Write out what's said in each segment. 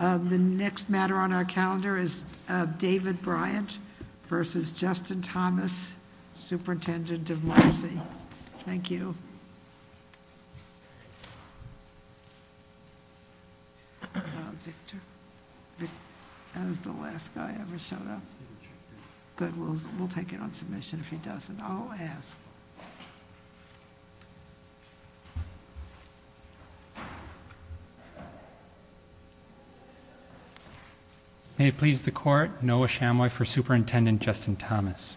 The next matter on our calendar is David Bryant v. Justin Thomas, Superintendent of Mercy. Thank you. That was the last guy that ever showed up. Good, we'll take it on submission if he doesn't. I'll ask. May it please the Court, Noah Chamoy for Superintendent Justin Thomas.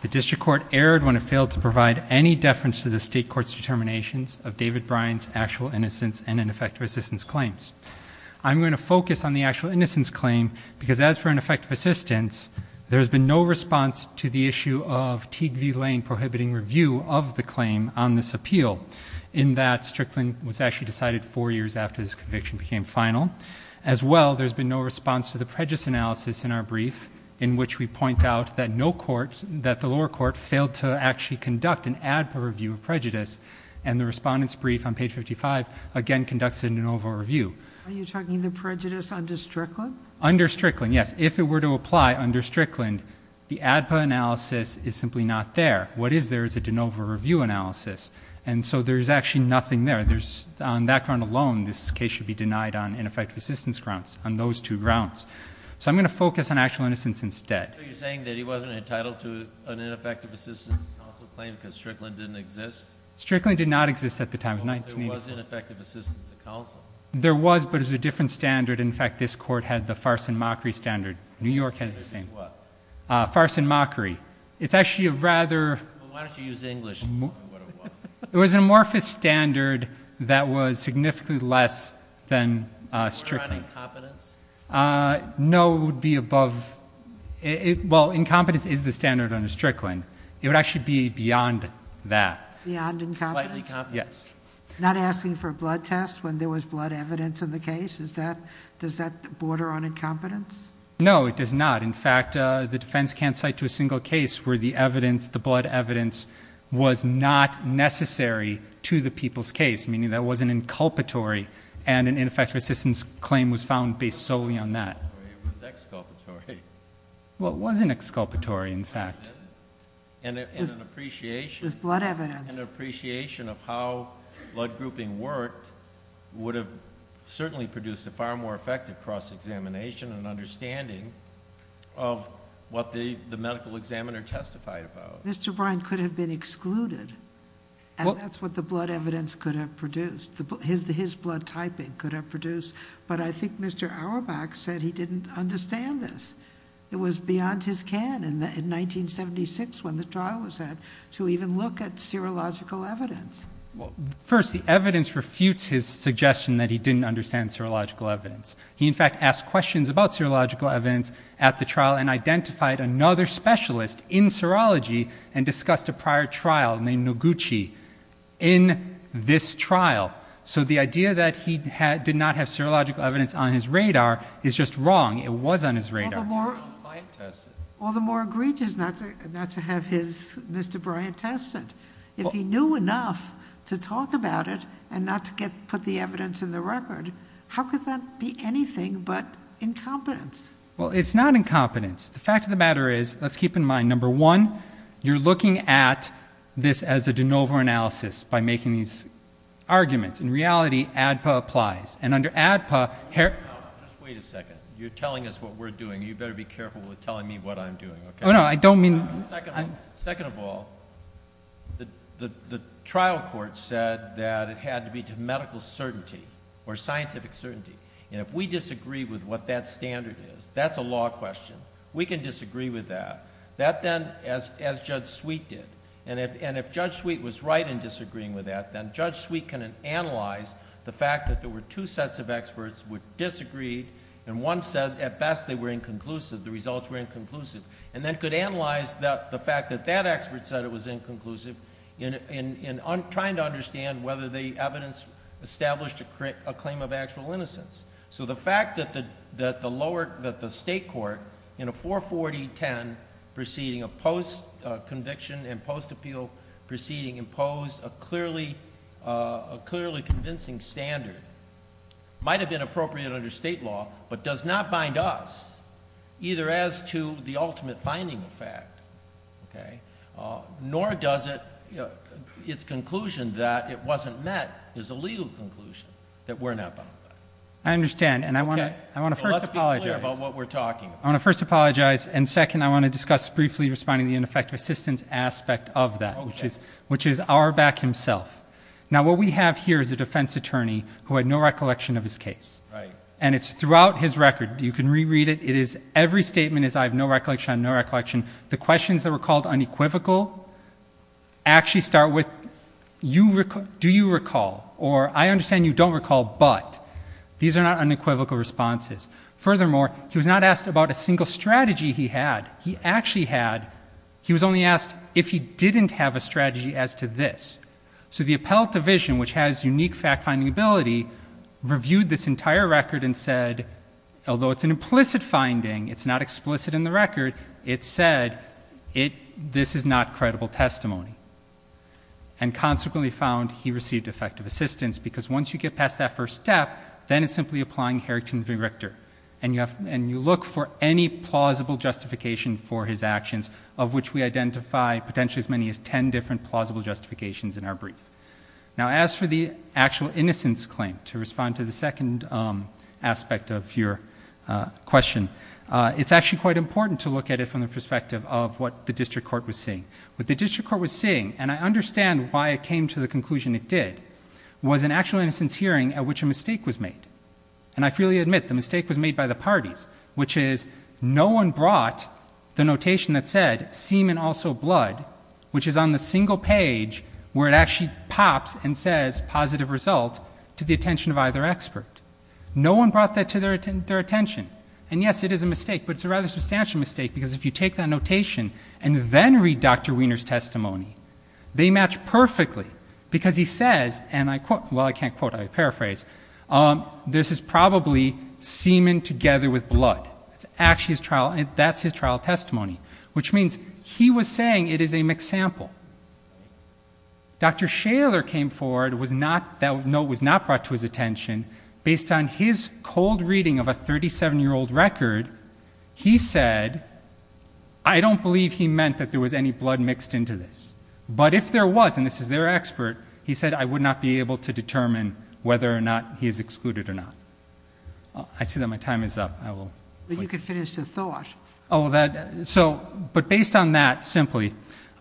The District Court erred when it failed to provide any deference to the State Court's determinations of David Bryant's actual innocence and ineffective assistance claims. I'm going to focus on the actual innocence claim, because as for ineffective assistance, there has been no response to the issue of Teague V. Lane prohibiting review of the claim on this appeal, in that Strickland was actually decided four years after this conviction became final. As well, there's been no response to the prejudice analysis in our brief, in which we point out that the lower court failed to actually conduct an ADPA review of prejudice, and the respondent's brief on page 55 again conducts a de novo review. Are you talking the prejudice under Strickland? Under Strickland, yes. If it were to apply under Strickland, the ADPA analysis is simply not there. What is there is a de novo review analysis. And so there's actually nothing there. On that ground alone, this case should be denied on ineffective assistance grounds, on those two grounds. So I'm going to focus on actual innocence instead. So you're saying that he wasn't entitled to an ineffective assistance counsel claim because Strickland didn't exist? Strickland did not exist at the time. There was ineffective assistance counsel. There was, but it was a different standard. In fact, this Court had the farce and mockery standard. New York had the same. Farce and what? Farce and mockery. It's actually a rather... Well, why don't you use English and tell me what it was? It was an amorphous standard that was significantly less than Strickland. Border on incompetence? No, it would be above... Well, incompetence is the standard under Strickland. It would actually be beyond that. Beyond incompetence? Slightly competence. Yes. Not asking for a blood test when there was blood evidence in the case? Does that border on incompetence? No, it does not. In fact, the defense can't cite to a single case where the evidence, the blood evidence, was not necessary to the people's case, meaning that it wasn't inculpatory and an ineffective assistance claim was found based solely on that. It was exculpatory. Well, it wasn't exculpatory, in fact. It was blood evidence. An appreciation of how blood grouping worked would have certainly produced a far more effective cross-examination and understanding of what the medical examiner testified about. Mr. Brine could have been excluded, and that's what the blood evidence could have produced. His blood typing could have produced. But I think Mr. Auerbach said he didn't understand this. It was beyond his can in 1976 when the trial was had to even look at serological evidence. First, the evidence refutes his suggestion that he didn't understand serological evidence. He, in fact, asked questions about serological evidence at the trial and identified another specialist in serology and discussed a prior trial named Noguchi in this trial. So the idea that he did not have serological evidence on his radar is just wrong. It was on his radar. All the more egregious not to have Mr. Brine test it. If he knew enough to talk about it and not to put the evidence in the record, how could that be anything but incompetence? Well, it's not incompetence. The fact of the matter is, let's keep in mind, number one, you're looking at this as a de novo analysis by making these arguments. In reality, ADPA applies. And under ADPA... Just wait a second. You're telling us what we're doing. You better be careful with telling me what I'm doing. Oh, no, I don't mean... Second of all, the trial court said that it had to be to medical certainty or scientific certainty. And if we disagree with what that standard is, that's a law question. We can disagree with that, as Judge Sweet did. And if Judge Sweet was right in disagreeing with that, then Judge Sweet can analyze the fact that there were two sets of experts who disagreed and one said, at best, they were inconclusive. The results were inconclusive. And then could analyze the fact that that expert said it was inconclusive in trying to understand whether the evidence established a claim of actual innocence. So the fact that the state court, in a 440-10 proceeding, a post-conviction and post-appeal proceeding, imposed a clearly convincing standard, might have been appropriate under state law, but does not bind us either as to the ultimate finding of fact, nor does its conclusion that it wasn't met is a legal conclusion that we're not bound by. I understand, and I want to first apologize. Let's be clear about what we're talking about. I want to first apologize, and second, I want to discuss briefly responding to the ineffective assistance aspect of that, which is Auerbach himself. Now, what we have here is a defense attorney who had no recollection of his case. Right. And it's throughout his record. You can reread it. It is every statement is I have no recollection, no recollection. The questions that were called unequivocal actually start with do you recall, or I understand you don't recall, but. These are not unequivocal responses. Furthermore, he was not asked about a single strategy he had. He actually had, he was only asked if he didn't have a strategy as to this. So the appellate division, which has unique fact-finding ability, reviewed this entire record and said, although it's an implicit finding, it's not explicit in the record, it said this is not credible testimony. And consequently found he received effective assistance, because once you get past that first step, then it's simply applying Harrington v. Richter. And you look for any plausible justification for his actions, of which we identify potentially as many as 10 different plausible justifications in our brief. Now, as for the actual innocence claim, to respond to the second aspect of your question, it's actually quite important to look at it from the perspective of what the district court was saying. What the district court was saying, and I understand why it came to the conclusion it did, was an actual innocence hearing at which a mistake was made. And I freely admit the mistake was made by the parties, which is no one brought the notation that said, semen, also blood, which is on the single page where it actually pops and says positive result to the attention of either expert. No one brought that to their attention. And yes, it is a mistake, but it's a rather substantial mistake, because if you take that notation and then read Dr. Wiener's testimony, they match perfectly, because he says, and I quote, well, I can't quote, I paraphrase, this is probably semen together with blood. That's his trial testimony, which means he was saying it is a mixed sample. Dr. Shaler came forward, that note was not brought to his attention. Based on his cold reading of a 37-year-old record, he said, I don't believe he meant that there was any blood mixed into this. But if there was, and this is their expert, he said, I would not be able to determine whether or not he is excluded or not. I see that my time is up. I will... But you could finish the thought. But based on that, simply,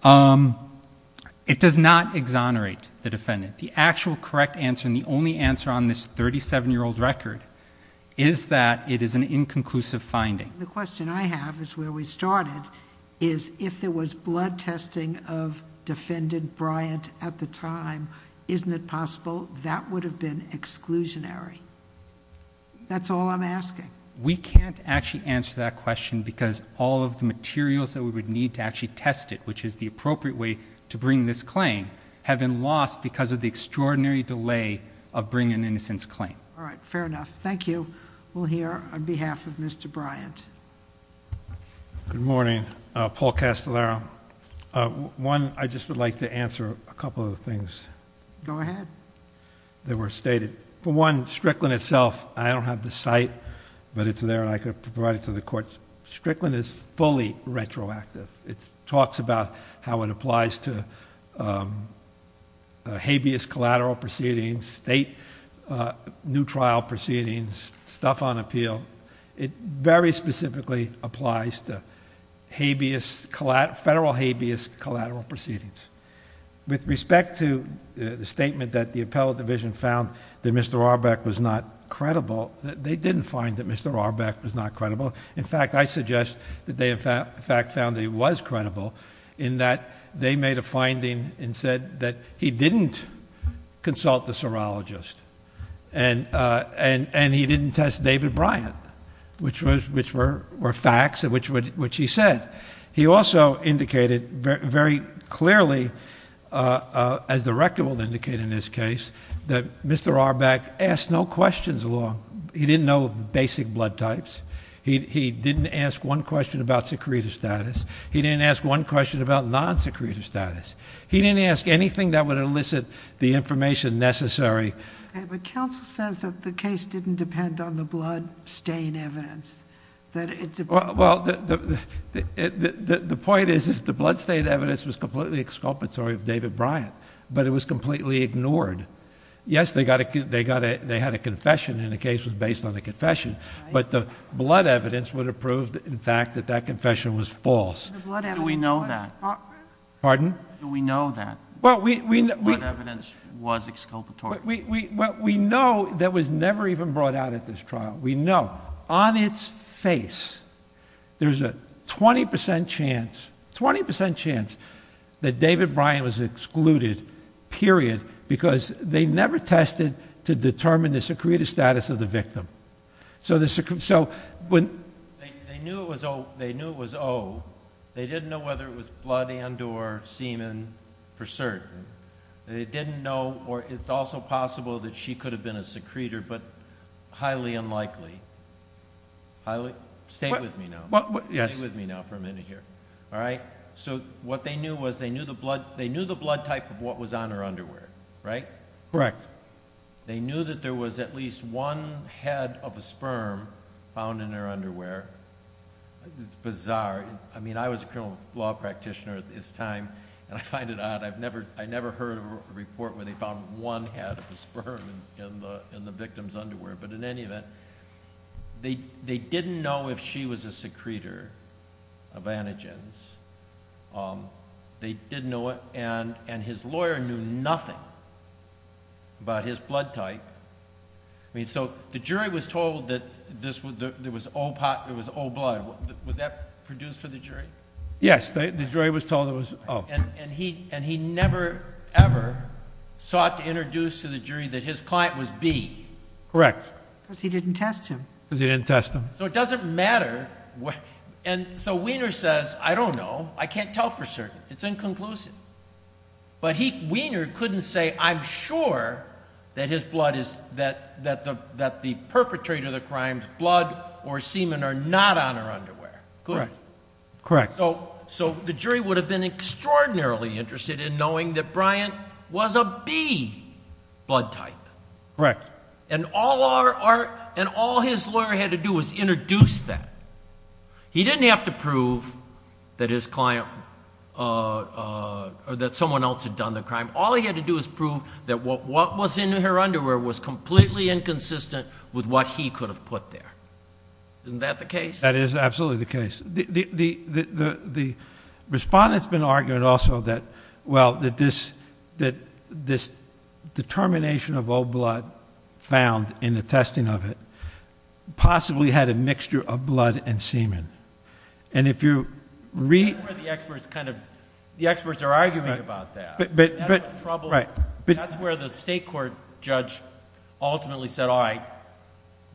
it does not exonerate the defendant. The actual correct answer, and the only answer on this 37-year-old record, is that it is an inconclusive finding. The question I have is where we started, is if there was blood testing of Defendant Bryant at the time, isn't it possible that would have been exclusionary? That's all I'm asking. We can't actually answer that question because all of the materials that we would need to actually test it, which is the appropriate way to bring this claim, have been lost because of the extraordinary delay of bringing an innocence claim. All right, fair enough. Thank you. We'll hear on behalf of Mr. Bryant. Good morning. Paul Castellaro. One, I just would like to answer a couple of things... Go ahead.... that were stated. For one, Strickland itself, I don't have the site, but it's there and I could provide it to the courts. Strickland is fully retroactive. It talks about how it applies to habeas collateral proceedings, state new trial proceedings, stuff on appeal. It very specifically applies to federal habeas collateral proceedings. With respect to the statement that the appellate division found that Mr. Arbeck was not credible, they didn't find that Mr. Arbeck was not credible. In fact, I suggest that they, in fact, found that he was credible in that they made a finding and said that he didn't consult the serologist and he didn't test David Bryant, which were facts, which he said. He also indicated very clearly, as the record will indicate in this case, that Mr. Arbeck asked no questions along... he didn't know basic blood types. He didn't ask one question about secretive status. He didn't ask one question about non-secretive status. He didn't ask anything that would elicit the information necessary. Okay, but counsel says that the case didn't depend on the blood stain evidence, that it's... Well, the point is that the blood stain evidence was completely exculpatory of David Bryant, but it was completely ignored. Yes, they had a confession and the case was based on a confession, but the blood evidence would have proved, in fact, that that confession was false. Do we know that? Pardon? Do we know that? Well, we... What evidence was exculpatory? Well, we know that was never even brought out at this trial. We know on its face there's a twenty percent chance, twenty percent chance, that David Bryant was excluded, period, because they never tested to determine the secretive status of the victim. So when... They knew it was O. They didn't know whether it was blood and or semen for certain. They didn't know, or it's also possible that she could have been a secretor, but highly unlikely. Stay with me now. Stay with me now for a minute here, all right? So what they knew was they knew the blood type of what was on her underwear, right? Correct. Correct. They knew that there was at least one head of a sperm found in her underwear. It's bizarre. I mean, I was a criminal law practitioner at this time, and I find it odd. I've never... I never heard a report where they found one head of a sperm in the victim's underwear. But in any event, they didn't know if she was a secretor of antigens. They didn't know it, and his lawyer knew nothing about his blood type. I mean, so the jury was told that there was O blood. Was that produced for the jury? Yes. The jury was told it was O. And he never, ever sought to introduce to the jury that his client was B? Correct. Because he didn't test him. Because he didn't test him. So it doesn't matter... And so Wiener says, I don't know. I can't tell for certain. It's inconclusive. But Wiener couldn't say, I'm sure that his blood is... that the perpetrator of the crime's blood or semen are not on her underwear. Correct. So the jury would have been extraordinarily interested in knowing that Bryant was a B blood type. Correct. And all his lawyer had to do was introduce that. He didn't have to prove that his client... or that someone else had done the crime. All he had to do was prove that what was in her underwear was completely inconsistent with what he could have put there. Isn't that the case? That is absolutely the case. The respondent's been arguing also that, well, that this determination of O blood found in the testing of it possibly had a mixture of blood and semen. And if you read... That's where the experts are arguing about that. But... That's where the state court judge ultimately said, all right,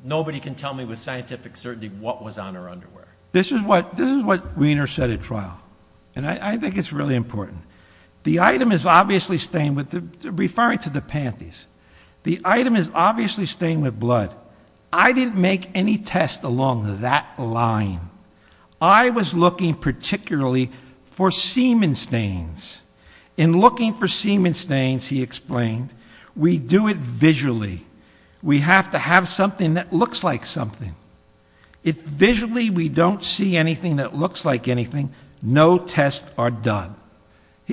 nobody can tell me with scientific certainty what was on her underwear. This is what Wiener said at trial. And I think it's really important. The item is obviously stained with... referring to the panties. The item is obviously stained with blood. I didn't make any tests along that line. I was looking particularly for semen stains. In looking for semen stains, he explained, we do it visually. We have to have something that looks like something. If visually we don't see anything that looks like anything, no tests are done.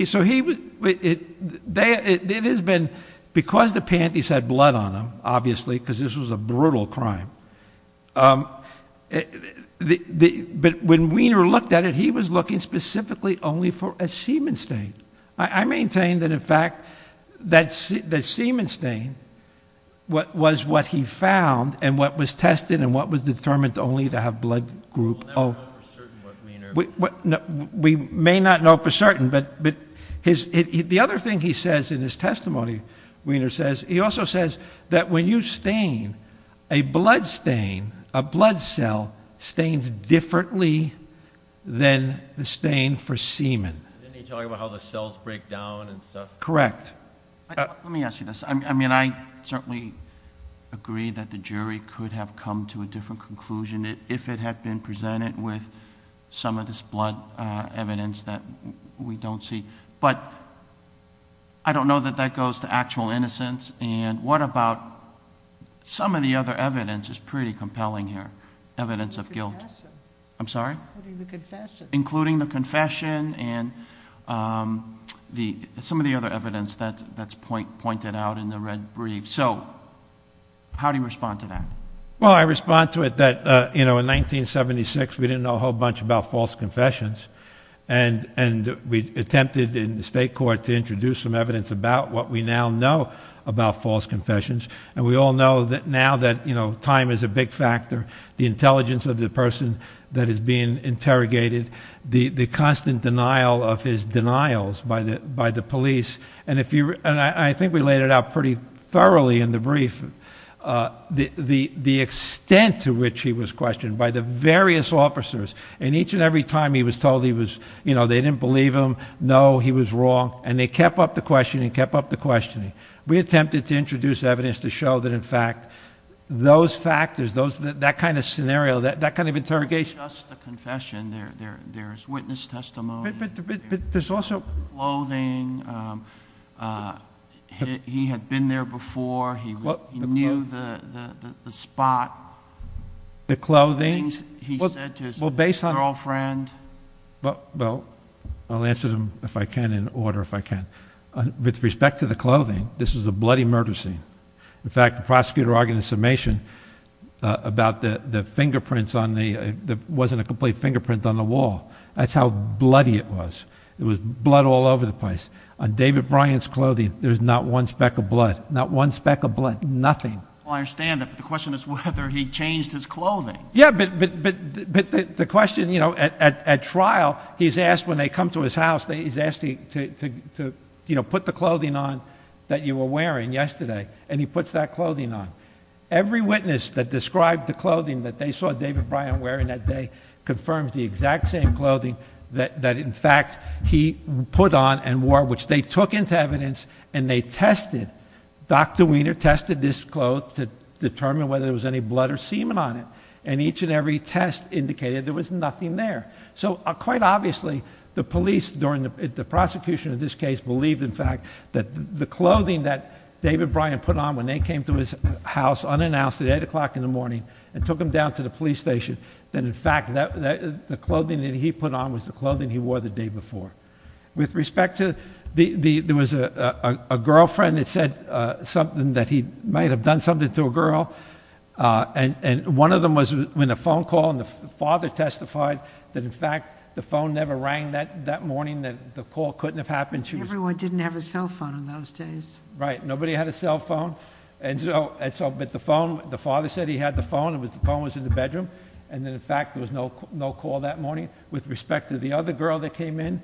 So he... it has been... because the panties had blood on them, obviously, because this was a brutal crime. But when Wiener looked at it, he was looking specifically only for a semen stain. I maintain that, in fact, that semen stain was what he found and what was tested and what was determined only to have blood group... We'll never know for certain what Wiener... We may not know for certain, but the other thing he says in his testimony, Wiener says, he also says that when you stain, a blood stain, a blood cell stains differently than the stain for semen. Didn't he talk about how the cells break down and stuff? Correct. Let me ask you this. I mean, I certainly agree that the jury could have come to a different conclusion if it had been presented with some of this blood evidence that we don't see. But, I don't know that that goes to actual innocence. And what about some of the other evidence is pretty compelling here, evidence of guilt. Including the confession. I'm sorry? Confession. Some of the other evidence that's pointed out in the red brief. So, how do you respond to that? Well, I respond to it that, you know, in 1976, we didn't know a whole bunch about false confessions. And, we attempted in the state court to introduce some evidence about what we now know about false confessions. And, we all know that now that, you know, time is a big factor. The intelligence of the person that is being interrogated. The constant denial of his denials by the police. And, I think we laid it out pretty thoroughly in the brief. The extent to which he was questioned by the various officers. And, each and every time he was told he was, you know, they didn't believe him. No, he was wrong. And, they kept up the questioning. Kept up the questioning. We attempted to introduce evidence to show that, in fact, those factors, that kind of scenario, that kind of interrogation. It's not just the confession. There's witness testimony. But, there's also... Clothing. He had been there before. He knew the spot. The clothing? The things he said to his girlfriend. Well, I'll answer them, if I can, in order, if I can. With respect to the clothing, this is a bloody murder scene. In fact, the prosecutor argued in the summation about the fingerprints on the... There wasn't a complete fingerprint on the wall. That's how bloody it was. There was blood all over the place. On David Bryant's clothing, there's not one speck of blood. Not one speck of blood. Nothing. Well, I understand that. But, the question is whether he changed his clothing. Yeah, but the question, you know, at trial, he's asked, when they come to his house, he's asked to, you know, put the clothing on that you were wearing yesterday. And, he puts that clothing on. Every witness that described the clothing that they saw David Bryant wearing that day, confirms the exact same clothing that, in fact, he put on and wore. Which they took into evidence, and they tested. Dr. Wiener tested this cloth to determine whether there was any blood or semen on it. And, each and every test indicated there was nothing there. So, quite obviously, the police, during the prosecution of this case, believed, in fact, that the clothing that David Bryant put on when they came to his house, unannounced, at 8 o'clock in the morning, and took him down to the police station, that, in fact, the clothing that he put on was the clothing he wore the day before. With respect to, there was a girlfriend that said something that he might have done something to a girl. And, one of them was when a phone call, and the father testified that, in fact, the phone never rang that morning, that the call couldn't have happened. Everyone didn't have a cell phone in those days. Right. Nobody had a cell phone. And, so, but the phone, the father said he had the phone. The phone was in the bedroom. And, in fact, there was no call that morning. With respect to the other girl that came in,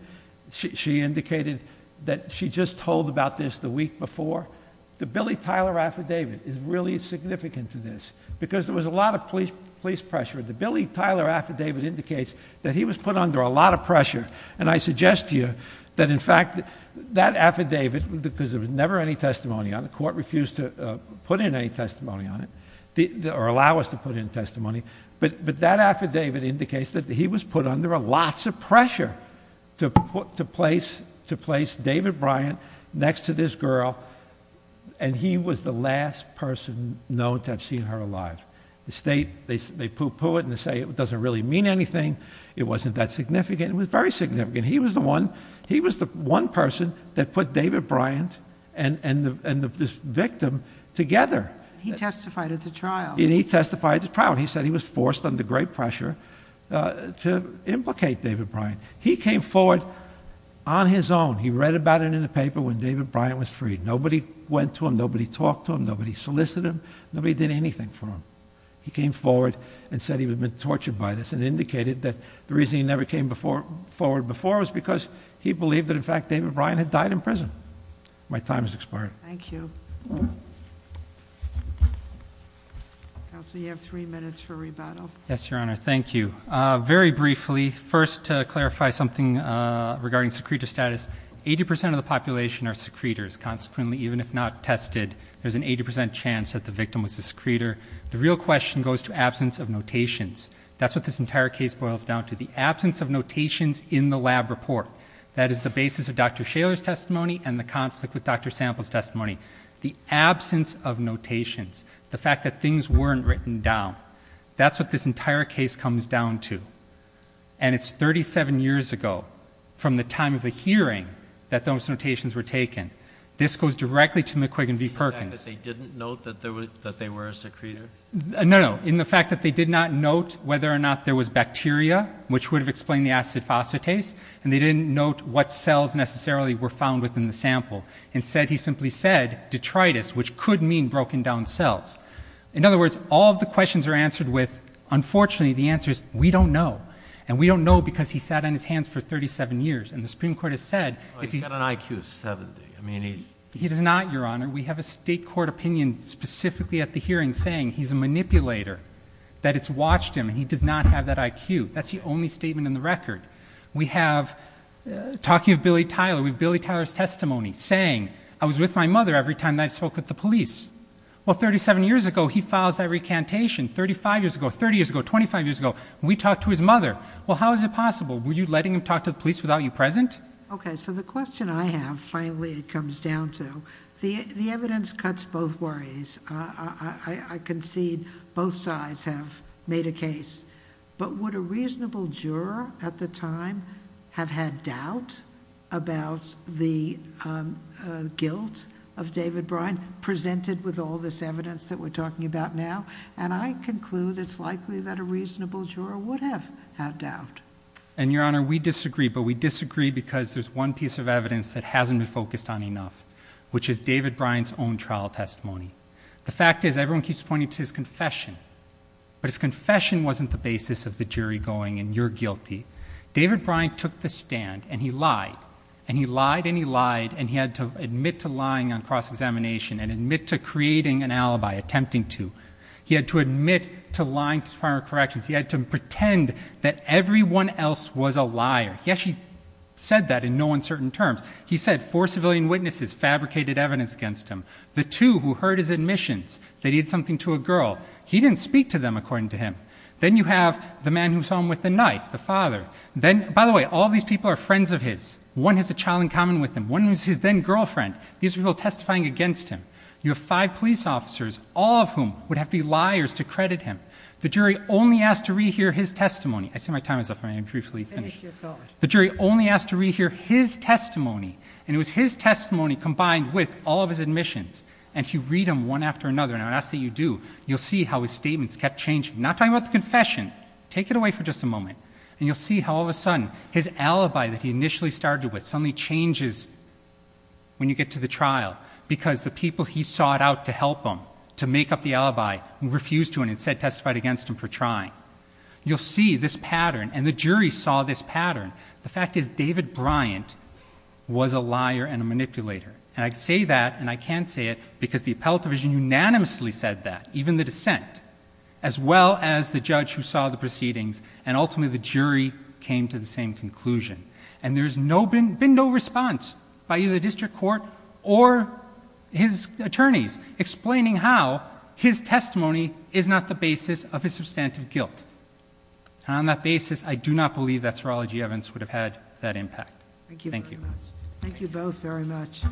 she indicated that she just told about this the week before. The Billy Tyler affidavit is really significant to this, because there was a lot of police pressure. The Billy Tyler affidavit indicates that he was put under a lot of pressure. And I suggest to you that, in fact, that affidavit, because there was never any testimony on it, the court refused to put in any testimony on it, or allow us to put in testimony, but that affidavit indicates that he was put under lots of pressure to place David Bryant next to this girl, and he was the last person known to have seen her alive. The state, they poo-poo it and say it doesn't really mean anything. It wasn't that significant. It was very significant. He was the one person that put David Bryant and this victim together. And he testified at the trial. He said he was forced under great pressure to implicate David Bryant. He came forward on his own. He read about it in the paper when David Bryant was freed. Nobody went to him. Nobody talked to him. Nobody solicited him. Nobody did anything for him. He came forward and said he had been tortured by this, and indicated that the reason he never came forward before was because he believed that, in fact, David Bryant had died in prison. My time has expired. Thank you. Counsel, you have three minutes for rebuttal. Yes, Your Honor. Thank you. Very briefly, first to clarify something regarding secretor status, 80% of the population are secretors. Consequently, even if not tested, there's an 80% chance that the victim was a secretor. The real question goes to absence of notations. That's what this entire case boils down to, the absence of notations in the lab report. and the conflict with Dr. Sample's testimony. The absence of notations. The fact that things weren't written down. That's what this entire case comes down to. And it's 37 years ago, from the time of the hearing, that those notations were taken. This goes directly to McQuiggan v. Perkins. In the fact that they didn't note that they were a secretor? No, no. In the fact that they did not note whether or not there was bacteria, which would have explained the acid phosphatase, and they didn't note what cells necessarily were found within the sample. Instead, he simply said, detritus, which could mean broken down cells. In other words, all of the questions are answered with, unfortunately, the answer is, we don't know. And we don't know because he sat on his hands for 37 years. And the Supreme Court has said... He's got an IQ of 70. He does not, Your Honor. We have a state court opinion, specifically at the hearing, saying he's a manipulator, that it's watched him, and he does not have that IQ. That's the only statement in the record. We have, talking of Billy Tyler, we have Billy Tyler's testimony saying, I was with my mother every time that I spoke with the police. Well, 37 years ago, he files that recantation. 35 years ago, 30 years ago, 25 years ago, we talked to his mother. Well, how is it possible? Were you letting him talk to the police without you present? Okay, so the question I have, finally, it comes down to, I concede both sides have made a case. But would a reasonable juror, at the time, have had doubt about the guilt of David Bryan, presented with all this evidence that we're talking about now? And I conclude it's likely that a reasonable juror would have had doubt. And, Your Honor, we disagree, but we disagree because there's one piece of evidence that hasn't been focused on enough, which is David Bryan's own trial testimony. The fact is, everyone keeps pointing to his confession. But his confession wasn't the basis of the jury going, and you're guilty. David Bryan took the stand, and he lied. And he lied, and he lied, and he had to admit to lying on cross-examination and admit to creating an alibi, attempting to. He had to admit to lying to Department of Corrections. He had to pretend that everyone else was a liar. He actually said that in no uncertain terms. He said four civilian witnesses fabricated evidence against him. The two who heard his admissions, they did something to a girl. He didn't speak to them, according to him. Then you have the man who saw him with the knife, the father. By the way, all these people are friends of his. One has a child in common with him. One is his then-girlfriend. These are people testifying against him. You have five police officers, all of whom would have to be liars to credit him. The jury only asked to re-hear his testimony. I see my time is up, and I need to briefly finish. The jury only asked to re-hear his testimony, and it was his testimony combined with all of his admissions. And if you read them one after another, and I'd ask that you do, you'll see how his statements kept changing. I'm not talking about the confession. Take it away for just a moment. And you'll see how all of a sudden his alibi that he initially started with suddenly changes when you get to the trial because the people he sought out to help him to make up the alibi refused to and instead testified against him for trying. You'll see this pattern, and the jury saw this pattern. The fact is David Bryant was a liar and a manipulator. And I say that, and I can say it, because the appellate division unanimously said that, even the dissent, as well as the judge who saw the proceedings, and ultimately the jury came to the same conclusion. And there's been no response by either the district court or his attorneys explaining how his testimony is not the basis of his substantive guilt. And on that basis, I do not believe that serology evidence would have had that impact. Thank you. Thank you both very much.